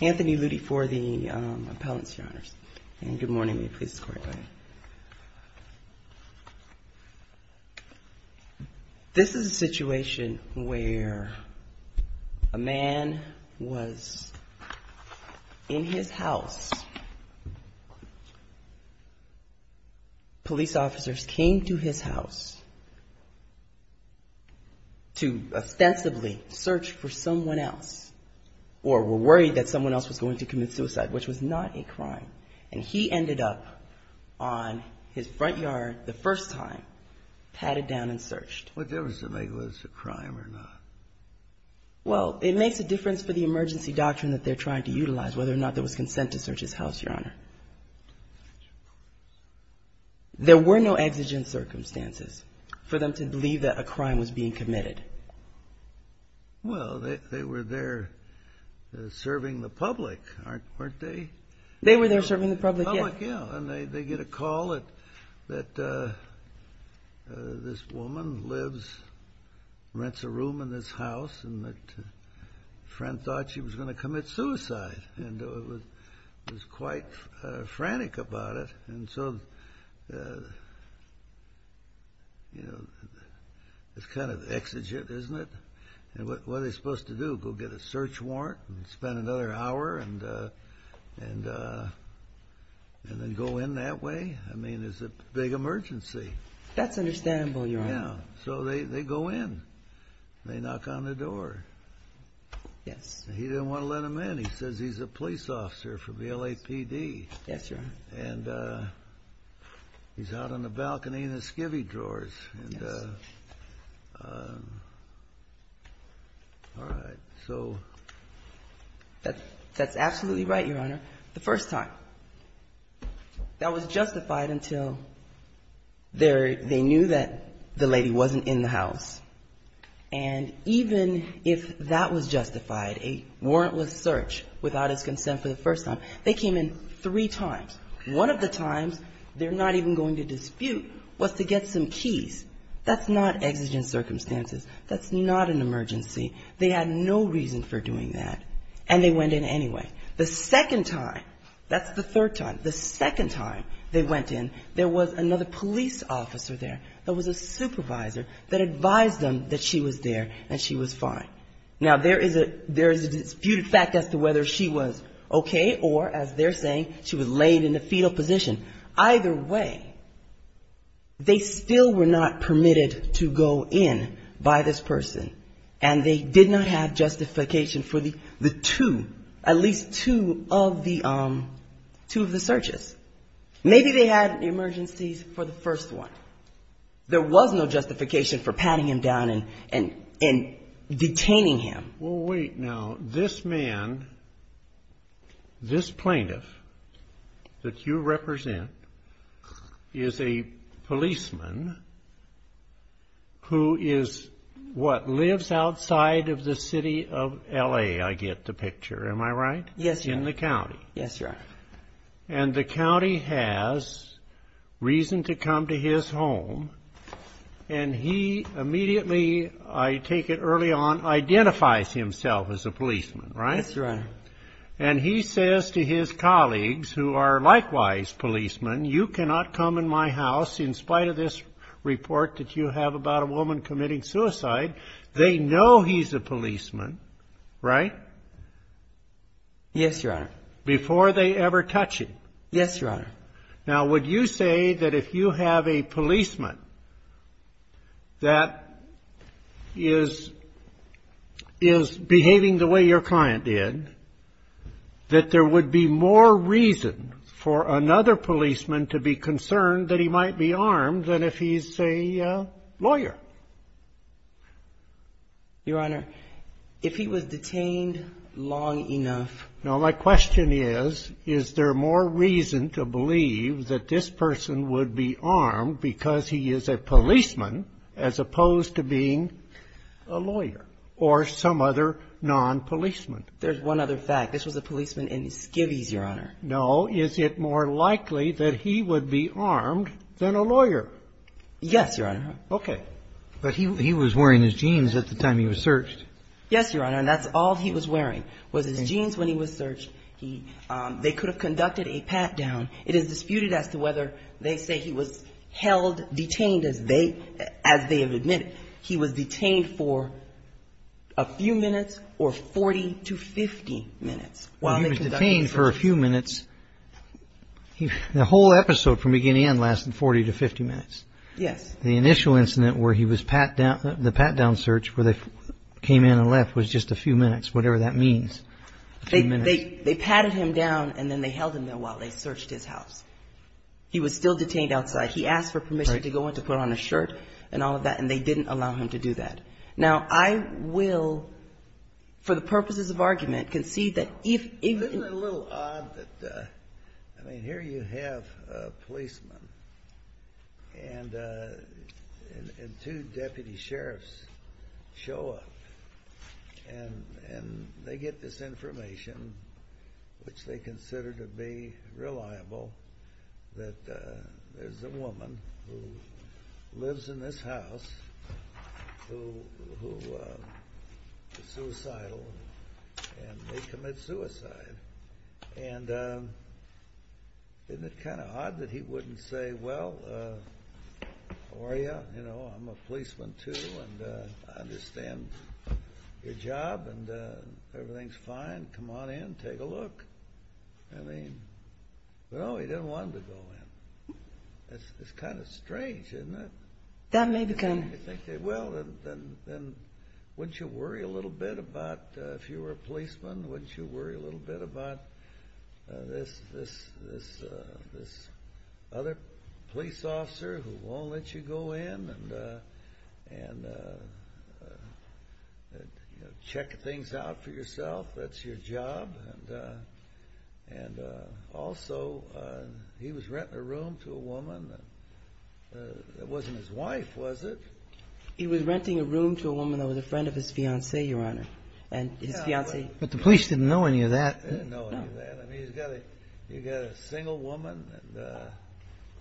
Anthony Lutie for the Appellants, Your Honors. And good morning. Please escort him in. This is a situation where a man was in his house. Police officers came to his house to ostensibly search for someone else or were worried that someone else was going to commit suicide, which was not a crime. And he ended up on his front yard the first time, patted down and searched. What difference does it make whether it's a crime or not? Well, it makes a difference for the emergency doctrine that they're trying to utilize, whether or not there was consent to search his house, Your Honor. There were no exigent circumstances for them to believe that a crime was being committed. Well, they were there serving the public, weren't they? They were there serving the public, yes. And they get a call that this woman lives, rents a room in this house and that a friend thought she was going to commit suicide and was quite frantic about it. And so, you know, it's kind of exigent, isn't it? And what are they supposed to do, go get a search warrant and spend another hour and then go in that way? I mean, it's a big emergency. That's understandable, Your Honor. Yeah. So they go in. They knock on the door. Yes. He didn't want to let them in. He says he's a police officer from the LAPD. Yes, Your Honor. And he's out on the balcony in the skivvy drawers. Yes. And all right. So... That's absolutely right, Your Honor. The first time. That was justified until they knew that the lady wasn't in the house. And even if that was justified, a warrantless search without his consent for the first time, they came in three times. One of the times they're not even going to dispute was to get some keys. That's not exigent circumstances. That's not an emergency. They had no reason for doing that. And they went in anyway. The second time, that's the third time, the second time they went in, there was another police officer there that was a supervisor that advised them that she was there and she was fine. Now, there is a disputed fact as to whether she was okay or, as they're saying, she was laid in a fetal position. Either way, they still were not permitted to go in by this person, and they did not have to go in by this person. And that's two of the searches. Maybe they had emergencies for the first one. There was no justification for patting him down and detaining him. Well, wait. Now, this man, this plaintiff that you represent is a policeman who is what, lives outside of the city of L.A., I get the picture. Am I right? Yes, Your Honor. In the county. Yes, Your Honor. And the county has reason to come to his home, and he immediately, I take it early on, identifies himself as a policeman, right? Yes, Your Honor. And he says to his colleagues, who are likewise policemen, you cannot come in my house in spite of this report that you have about a woman committing suicide. They know he's a policeman, right? Yes, Your Honor. Before they ever touch him. Yes, Your Honor. Now, would you say that if you have a policeman that is behaving the way your client did, that there would be more reason for another policeman to be concerned that he might be armed than if he's a lawyer? Your Honor, if he was detained long enough. Now, my question is, is there more reason to believe that this person would be armed because he is a policeman as opposed to being a lawyer or some other non-policeman? There's one other fact. This was a policeman in Skivvies, Your Honor. No. Is it more likely that he would be armed than a lawyer? Yes, Your Honor. Okay. But he was wearing his jeans at the time he was searched. Yes, Your Honor. And that's all he was wearing was his jeans when he was searched. They could have conducted a pat-down. It is disputed as to whether they say he was held, detained as they have admitted. He was detained for a few minutes or 40 to 50 minutes while they conducted the search. Well, he was detained for a few minutes. The whole episode from beginning to end lasted 40 to 50 minutes. Yes. The initial incident where he was pat down, the pat-down search, where they came in and left was just a few minutes, whatever that means. They patted him down and then they held him there while they searched his house. He was still detained outside. He asked for permission to go in to put on a shirt and all of that, and they didn't allow him to do that. Now, I will, for the purposes of argument, concede that if... Isn't it a little odd that, I mean, here you have a policeman and he's a lawyer. And two deputy sheriffs show up, and they get this information, which they consider to be reliable, that there's a woman who lives in this house who is suicidal and may commit suicide. And isn't it kind of odd that he wouldn't say, well, or he wouldn't say, well, how are you? You know, I'm a policeman, too, and I understand your job and everything's fine. Come on in, take a look. I mean, well, he didn't want him to go in. It's kind of strange, isn't it? Well, then wouldn't you worry a little bit about, if you were a policeman, wouldn't you worry a little bit about this other police officer who won't let you go in? And, you know, check things out for yourself. That's your job. And also, he was renting a room to a woman that wasn't his wife, was it? He was renting a room to a woman that was a friend of his fiancée, Your Honor. But the police didn't know any of that. They didn't know any of that. I mean, you've got a single woman and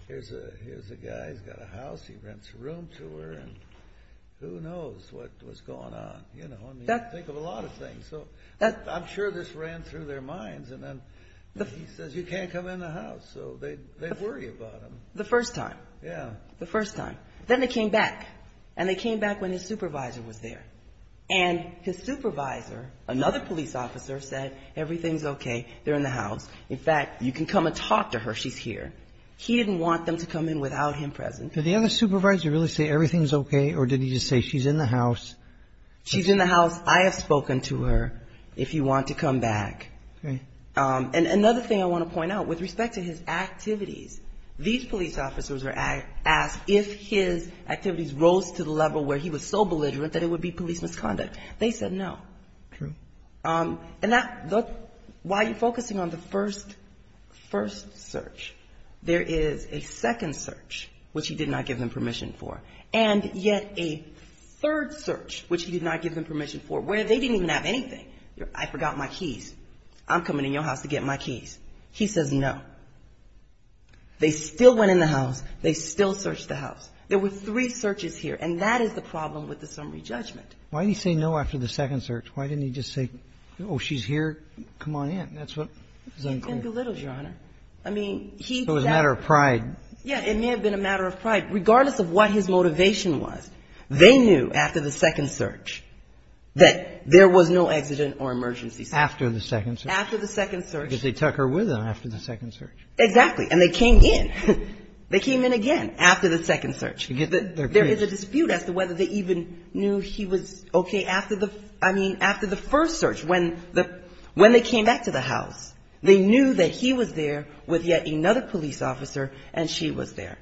here's a guy who's got a house. He rents a room to her, and who knows what was going on. I mean, you think of a lot of things. I'm sure this ran through their minds, and then he says, you can't come in the house. So they worry about him. The first time. Then they came back, and they came back when his supervisor was there. And his supervisor, another police officer, said, everything's okay, they're in the house. In fact, you can come and talk to her, she's here. He didn't want them to come in without him present. Did the other supervisor really say, everything's okay, or did he just say, she's in the house? She's in the house. I have spoken to her, if you want to come back. And another thing I want to point out, with respect to his activities, these police officers were asked if his activities rose to the level where he was so belligerent that it would be police misconduct. They said no. And while you're focusing on the first search, there is a second search, which he did not give them permission for. And yet a third search, which he did not give them permission for, where they didn't even have anything. I forgot my keys. I'm coming in your house to get my keys. He says no. They still went in the house. They still searched the house. There were three searches here, and that is the problem with the summary judgment. Why didn't he say no after the second search? Why didn't he just say, oh, she's here, come on in? It belittled, Your Honor. I mean, he said. It was a matter of pride. Yeah, it may have been a matter of pride, regardless of what his motivation was. They knew after the second search that there was no accident or emergency. After the second search. After the second search. Because they took her with them after the second search. Exactly. And they came in. They came in again after the second search. There is a dispute as to whether they even knew he was okay after the first search. When they came back to the house, they knew that he was there with yet another police officer, and she was there.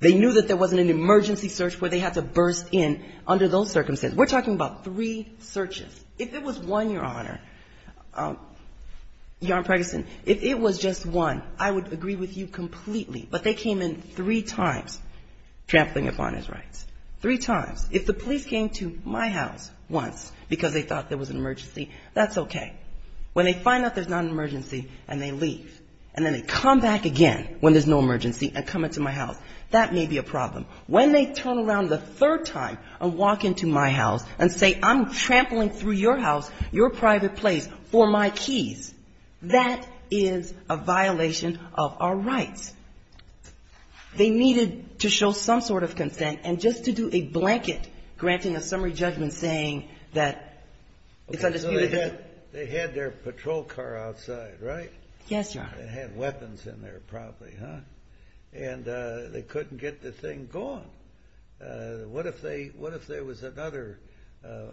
They knew that there wasn't an emergency search where they had to burst in under those circumstances. We're talking about three searches. If it was one, Your Honor, Your Honor Preggison, if it was just one, I would agree with you completely. But they came in three times trampling upon his rights. Three times. If the police came to my house once because they thought there was an emergency, that's okay. When they find out there's not an emergency and they leave, and then they come back again when there's no emergency and come into my house, that may be a problem. When they turn around the third time and walk into my house and say I'm trampling through your house, your private place, for my keys, that is a violation of our rights. They needed to show some sort of consent and just to do a blanket granting a summary judgment saying that it's undisputed. They had their patrol car outside, right? Yes, Your Honor. They had weapons in there probably, huh? And they couldn't get the thing going. What if there was another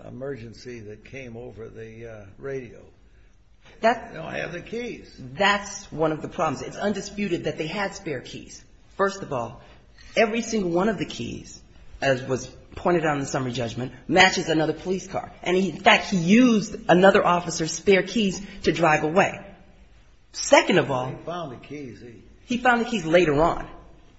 emergency that came over the radio? No, I have the keys. And in fact, he used another officer's spare keys to drive away. Second of all, he found the keys later on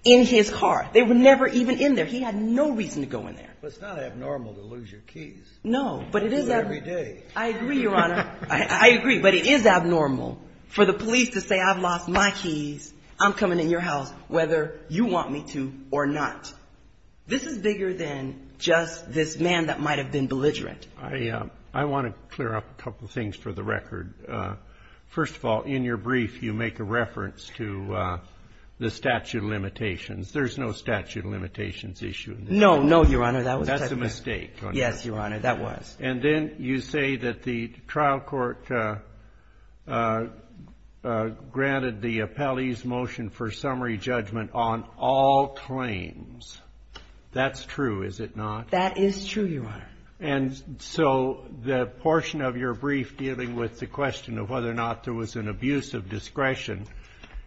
in his car. They were never even in there. He had no reason to go in there. But it's not abnormal to lose your keys. No, but it is abnormal. I agree, Your Honor. I agree, but it is abnormal for the police to say I've lost my keys, I'm coming in your house, whether you want me to or not. This is bigger than just this man that might have been belligerent. I want to clear up a couple of things for the record. First of all, in your brief, you make a reference to the statute of limitations. There's no statute of limitations issue. No, no, Your Honor. That's a mistake. Yes, Your Honor, that was. And then you say that the trial court granted the appellee's motion for summary judgment on all claims. That's true, is it not? That is true, Your Honor. And so the portion of your brief dealing with the question of whether or not there was an abuse of discretion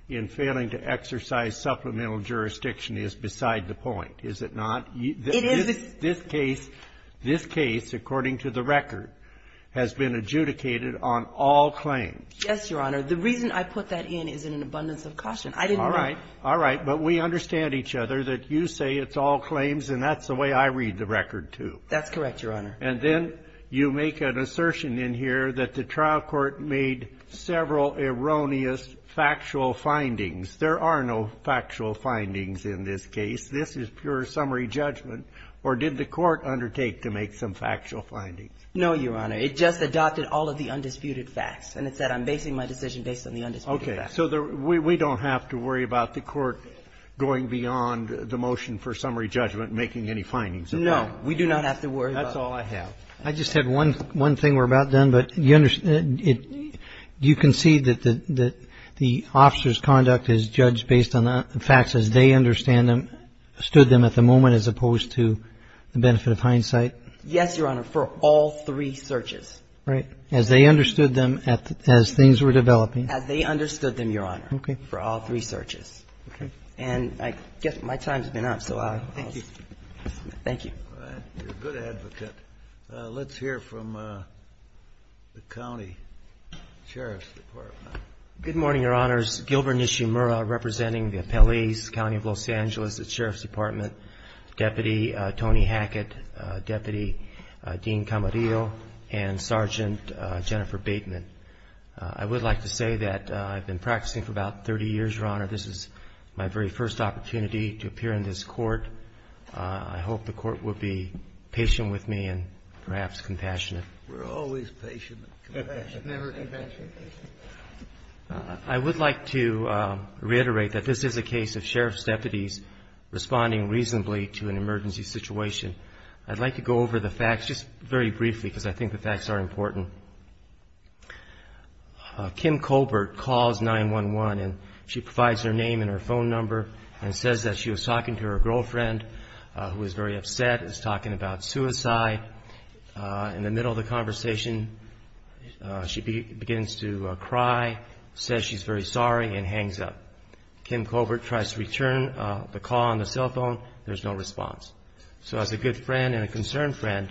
in failing to exercise supplemental jurisdiction is beside the point, is it not? It is. This case, according to the record, has been adjudicated on all claims. Yes, Your Honor. The reason I put that in is in an abundance of caution. I didn't know. All right. All right. But we understand each other that you say it's all claims, and that's the way I read the record, too. That's correct, Your Honor. And then you make an assertion in here that the trial court made several erroneous factual findings. There are no factual findings in this case. This is pure summary judgment, or did the court undertake to make some factual findings? No, Your Honor. It just adopted all of the undisputed facts, and it said I'm basing my decision based on the undisputed facts. Okay. So we don't have to worry about the court going beyond the motion for summary judgment and making any findings of that? No. We do not have to worry about that. That's all I have. I just had one thing we're about done, but you can see that the officer's conduct is judged based on the facts as they understand them, stood them at the moment, as opposed to the benefit of hindsight? Yes, Your Honor, for all three searches. Right. As they understood them as things were developing. As they understood them, Your Honor, for all three searches. Okay. And I guess my time's been up, so I'll just... Thank you. Thank you. All right. You're a good advocate. Let's hear from the county sheriff's department. Good morning, Your Honors. Gilbert Nishimura representing the appellees, County of Los Angeles, the sheriff's department, Deputy Tony Hackett, Deputy Dean Camarillo, and Sergeant Jennifer Bateman. I would like to say that I've been practicing for about 30 years, Your Honor. This is my very first opportunity to appear in this court. I hope the court will be patient with me and perhaps compassionate. We're always patient and compassionate. Never compassionate. I would like to reiterate that this is a case of sheriff's deputies responding reasonably to an emergency situation. I'd like to go over the facts just very briefly because I think the facts are important. Kim Colbert calls 911, and she provides her name and her phone number and says that she was talking to her girlfriend, who was very upset, was talking about suicide. In the middle of the conversation, she begins to cry, says she's very sorry, and hangs up. Kim Colbert tries to return the call on the cell phone. There's no response. So as a good friend and a concerned friend,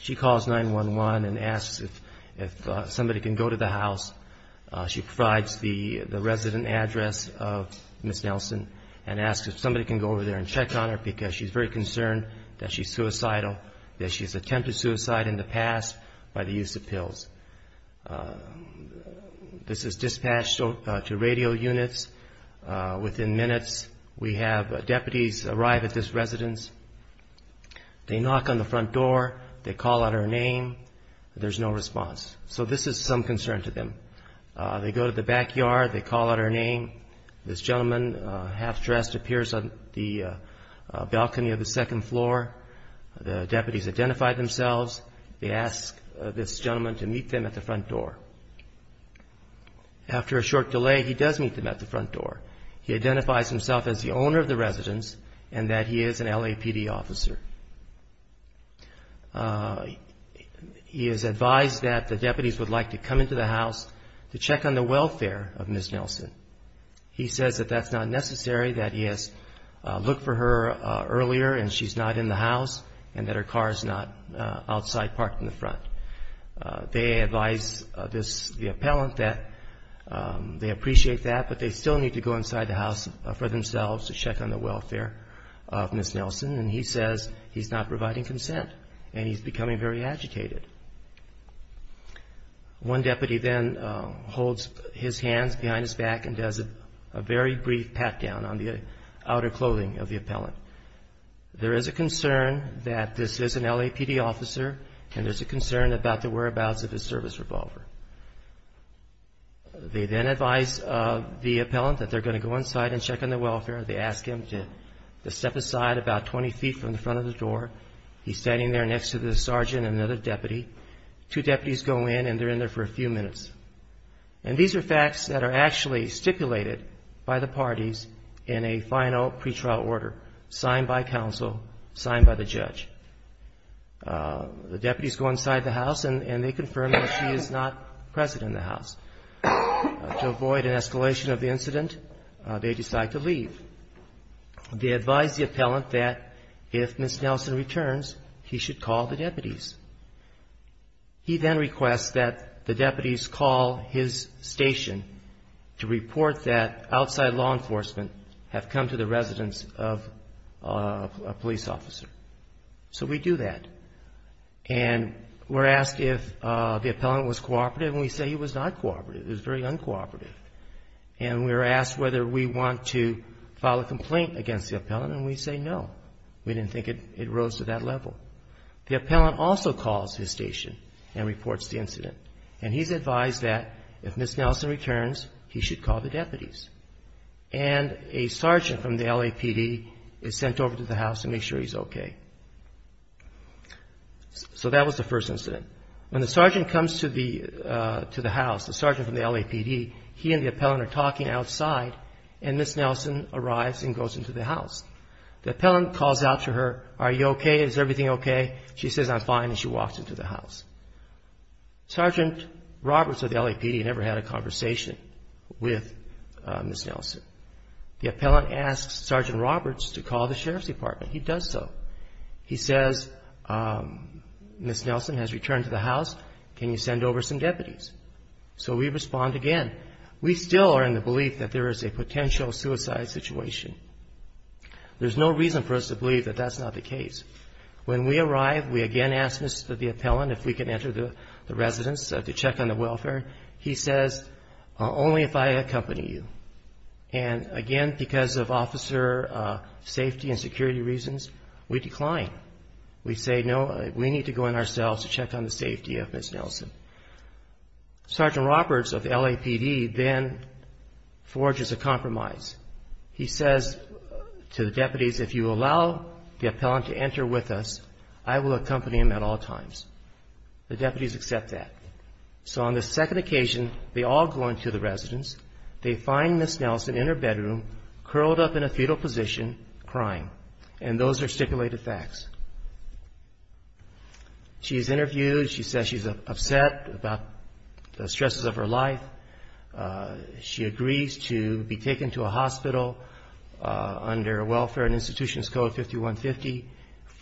she calls 911 and asks if somebody can go to the house. She provides the resident address of Ms. Nelson and asks if somebody can go over there and check on her because she's very concerned that she's suicidal, that she's attempted suicide in the past by the use of pills. This is dispatched to radio units. Within minutes, we have deputies arrive at this residence. They knock on the front door. They call out her name. There's no response. So this is some concern to them. They go to the backyard. They call out her name. This gentleman, half-dressed, appears on the balcony of the second floor. The deputies identify themselves. They ask this gentleman to meet them at the front door. After a short delay, he does meet them at the front door. He identifies himself as the owner of the residence and that he is an LAPD officer. He is advised that the deputies would like to come into the house to check on the He says that that's not necessary, that he has looked for her earlier and she's not in the house and that her car is not outside parked in the front. They advise the appellant that they appreciate that, but they still need to go inside the house for themselves to check on the welfare of Ms. Nelson, and he says he's not providing consent and he's becoming very agitated. One deputy then holds his hands behind his back and does a very brief pat-down on the outer clothing of the appellant. There is a concern that this is an LAPD officer and there's a concern about the whereabouts of his service revolver. They then advise the appellant that they're going to go inside and check on the welfare. They ask him to step aside about 20 feet from the front of the door. He's standing there next to the sergeant and another deputy. Two deputies go in and they're in there for a few minutes. And these are facts that are actually stipulated by the parties in a final pretrial order signed by counsel, signed by the judge. The deputies go inside the house and they confirm that she is not present in the house. To avoid an escalation of the incident, they decide to leave. They advise the appellant that if Ms. Nelson returns, he should call the deputies. He then requests that the deputies call his station to report that outside law enforcement have come to the residence of a police officer. So we do that and we're asked if the appellant was cooperative and we say he was not cooperative, he was very uncooperative. And we're asked whether we want to file a complaint against the appellant and we say no. We didn't think it rose to that level. The appellant also calls his station and reports the incident. And he's advised that if Ms. Nelson returns, he should call the deputies. And a sergeant from the LAPD is sent over to the house to make sure he's okay. So that was the first incident. When the sergeant comes to the house, the sergeant from the LAPD, he and the appellant are talking outside and Ms. Nelson arrives and goes into the house. The appellant calls out to her, are you okay, is everything okay? She says I'm fine and she walks into the house. Sergeant Roberts of the LAPD never had a conversation with Ms. Nelson. The appellant asks Sergeant Roberts to call the sheriff's department. He does so. He says Ms. Nelson has returned to the house. Can you send over some deputies? So we respond again. We still are in the belief that there is a potential suicide situation. There's no reason for us to believe that that's not the case. When we arrive, we again ask the appellant if we can enter the residence to check on the welfare. He says only if I accompany you. And again, because of officer safety and security reasons, we decline. We say no, we need to go in ourselves to check on the safety of Ms. Nelson. Sergeant Roberts of the LAPD then forges a compromise. He says to the deputies if you allow the appellant to enter with us, I will accompany him at all times. The deputies accept that. So on the second occasion, they all go into the residence. They find Ms. Nelson in her bedroom, curled up in a fetal position, crying. And those are stipulated facts. She is interviewed. She says she's upset about the stresses of her life. She agrees to be taken to a hospital under Welfare and Institutions Code 5150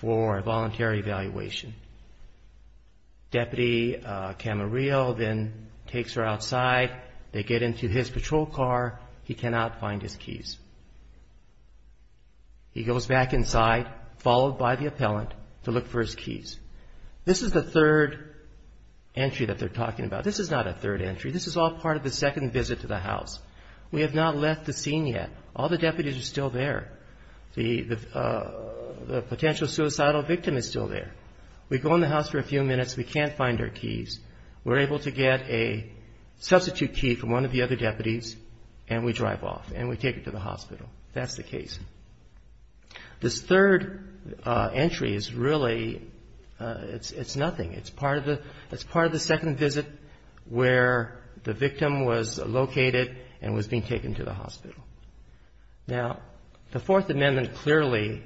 for a voluntary evaluation. Deputy Camarillo then takes her outside. They get into his patrol car. He cannot find his keys. He goes back inside, followed by the appellant, to look for his keys. This is the third entry that they're talking about. This is not a third entry. This is all part of the second visit to the house. We have not left the scene yet. All the deputies are still there. The potential suicidal victim is still there. We go in the house for a few minutes. We can't find her keys. We're able to get a substitute key from one of the other deputies, and we drive off, and we take her to the hospital. That's the case. This third entry is really, it's nothing. It's part of the second visit where the victim was located and was being taken to the hospital. Now, the Fourth Amendment clearly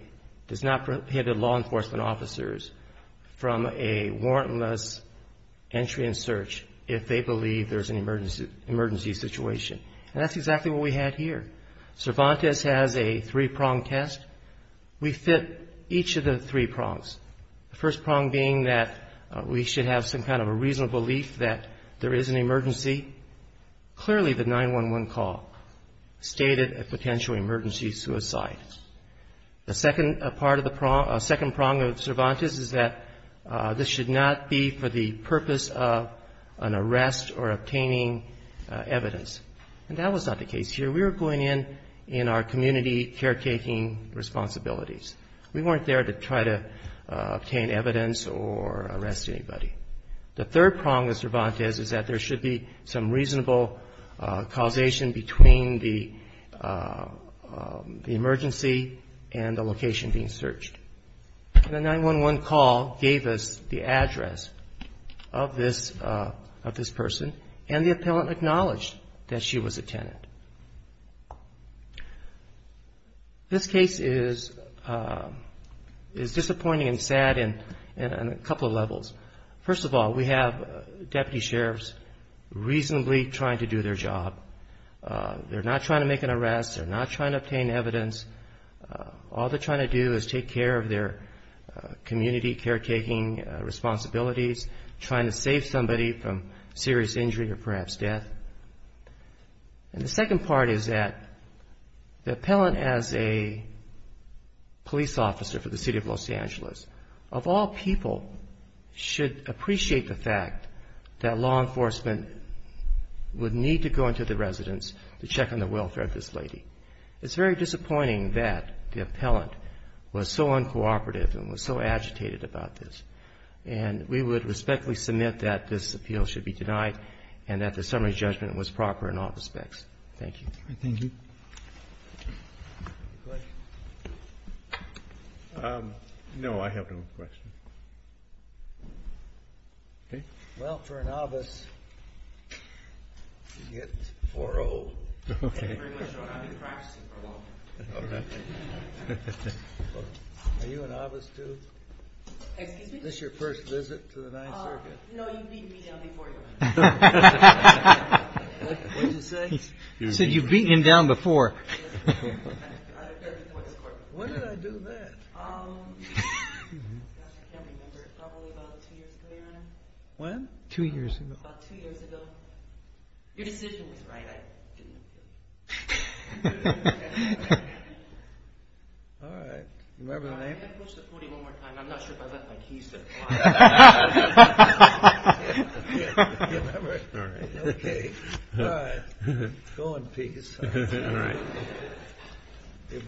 does not prohibit law enforcement officers from a warrantless entry and search if they believe there's an emergency situation, and that's exactly what we had here. Cervantes has a three-pronged test. We fit each of the three prongs, the first prong being that we should have some kind of a reasonable belief that there is an emergency. Clearly, the 911 call stated a potential emergency suicide. The second prong of Cervantes is that this should not be for the purpose of an arrest or obtaining evidence, and that was not the case here. We were going in in our community caretaking responsibilities. We weren't there to try to obtain evidence or arrest anybody. The third prong of Cervantes is that there should be some reasonable causation between the emergency and the location being searched. The 911 call gave us the address of this person, and the appellant acknowledged that she was a tenant. This case is disappointing and sad in a couple of levels. First of all, we have deputy sheriffs reasonably trying to do their job. They're not trying to make an arrest. They're not trying to obtain evidence. All they're trying to do is take care of their community caretaking responsibilities, trying to save somebody from serious injury or perhaps death. And the second part is that the appellant, as a police officer for the city of Los Angeles, of all people should appreciate the fact that law enforcement would need to go into the residence to check on the welfare of this lady. It's very disappointing that the appellant was so uncooperative and was so agitated about this, and we would respectfully submit that this appeal should be denied and that the summary judgment was proper in all respects. Thank you. Thank you. Any questions? No, I have no questions. Okay. Well, for a novice, you get 4-0. Okay. Very much so, and I'll be practicing for a while. Okay. Are you a novice, too? Excuse me? Is this your first visit to the Ninth Circuit? No, you've beaten me down before, Your Honor. What did you say? He said you've beaten him down before. When did I do that? I can't remember. Probably about two years ago, Your Honor. When? Two years ago. About two years ago. Your decision was right. I didn't approve. All right. Remember the name? Can I approach the podium one more time? I'm not sure if I left my keys there. Do you remember? All right. Okay. All right. Go in peace. All right.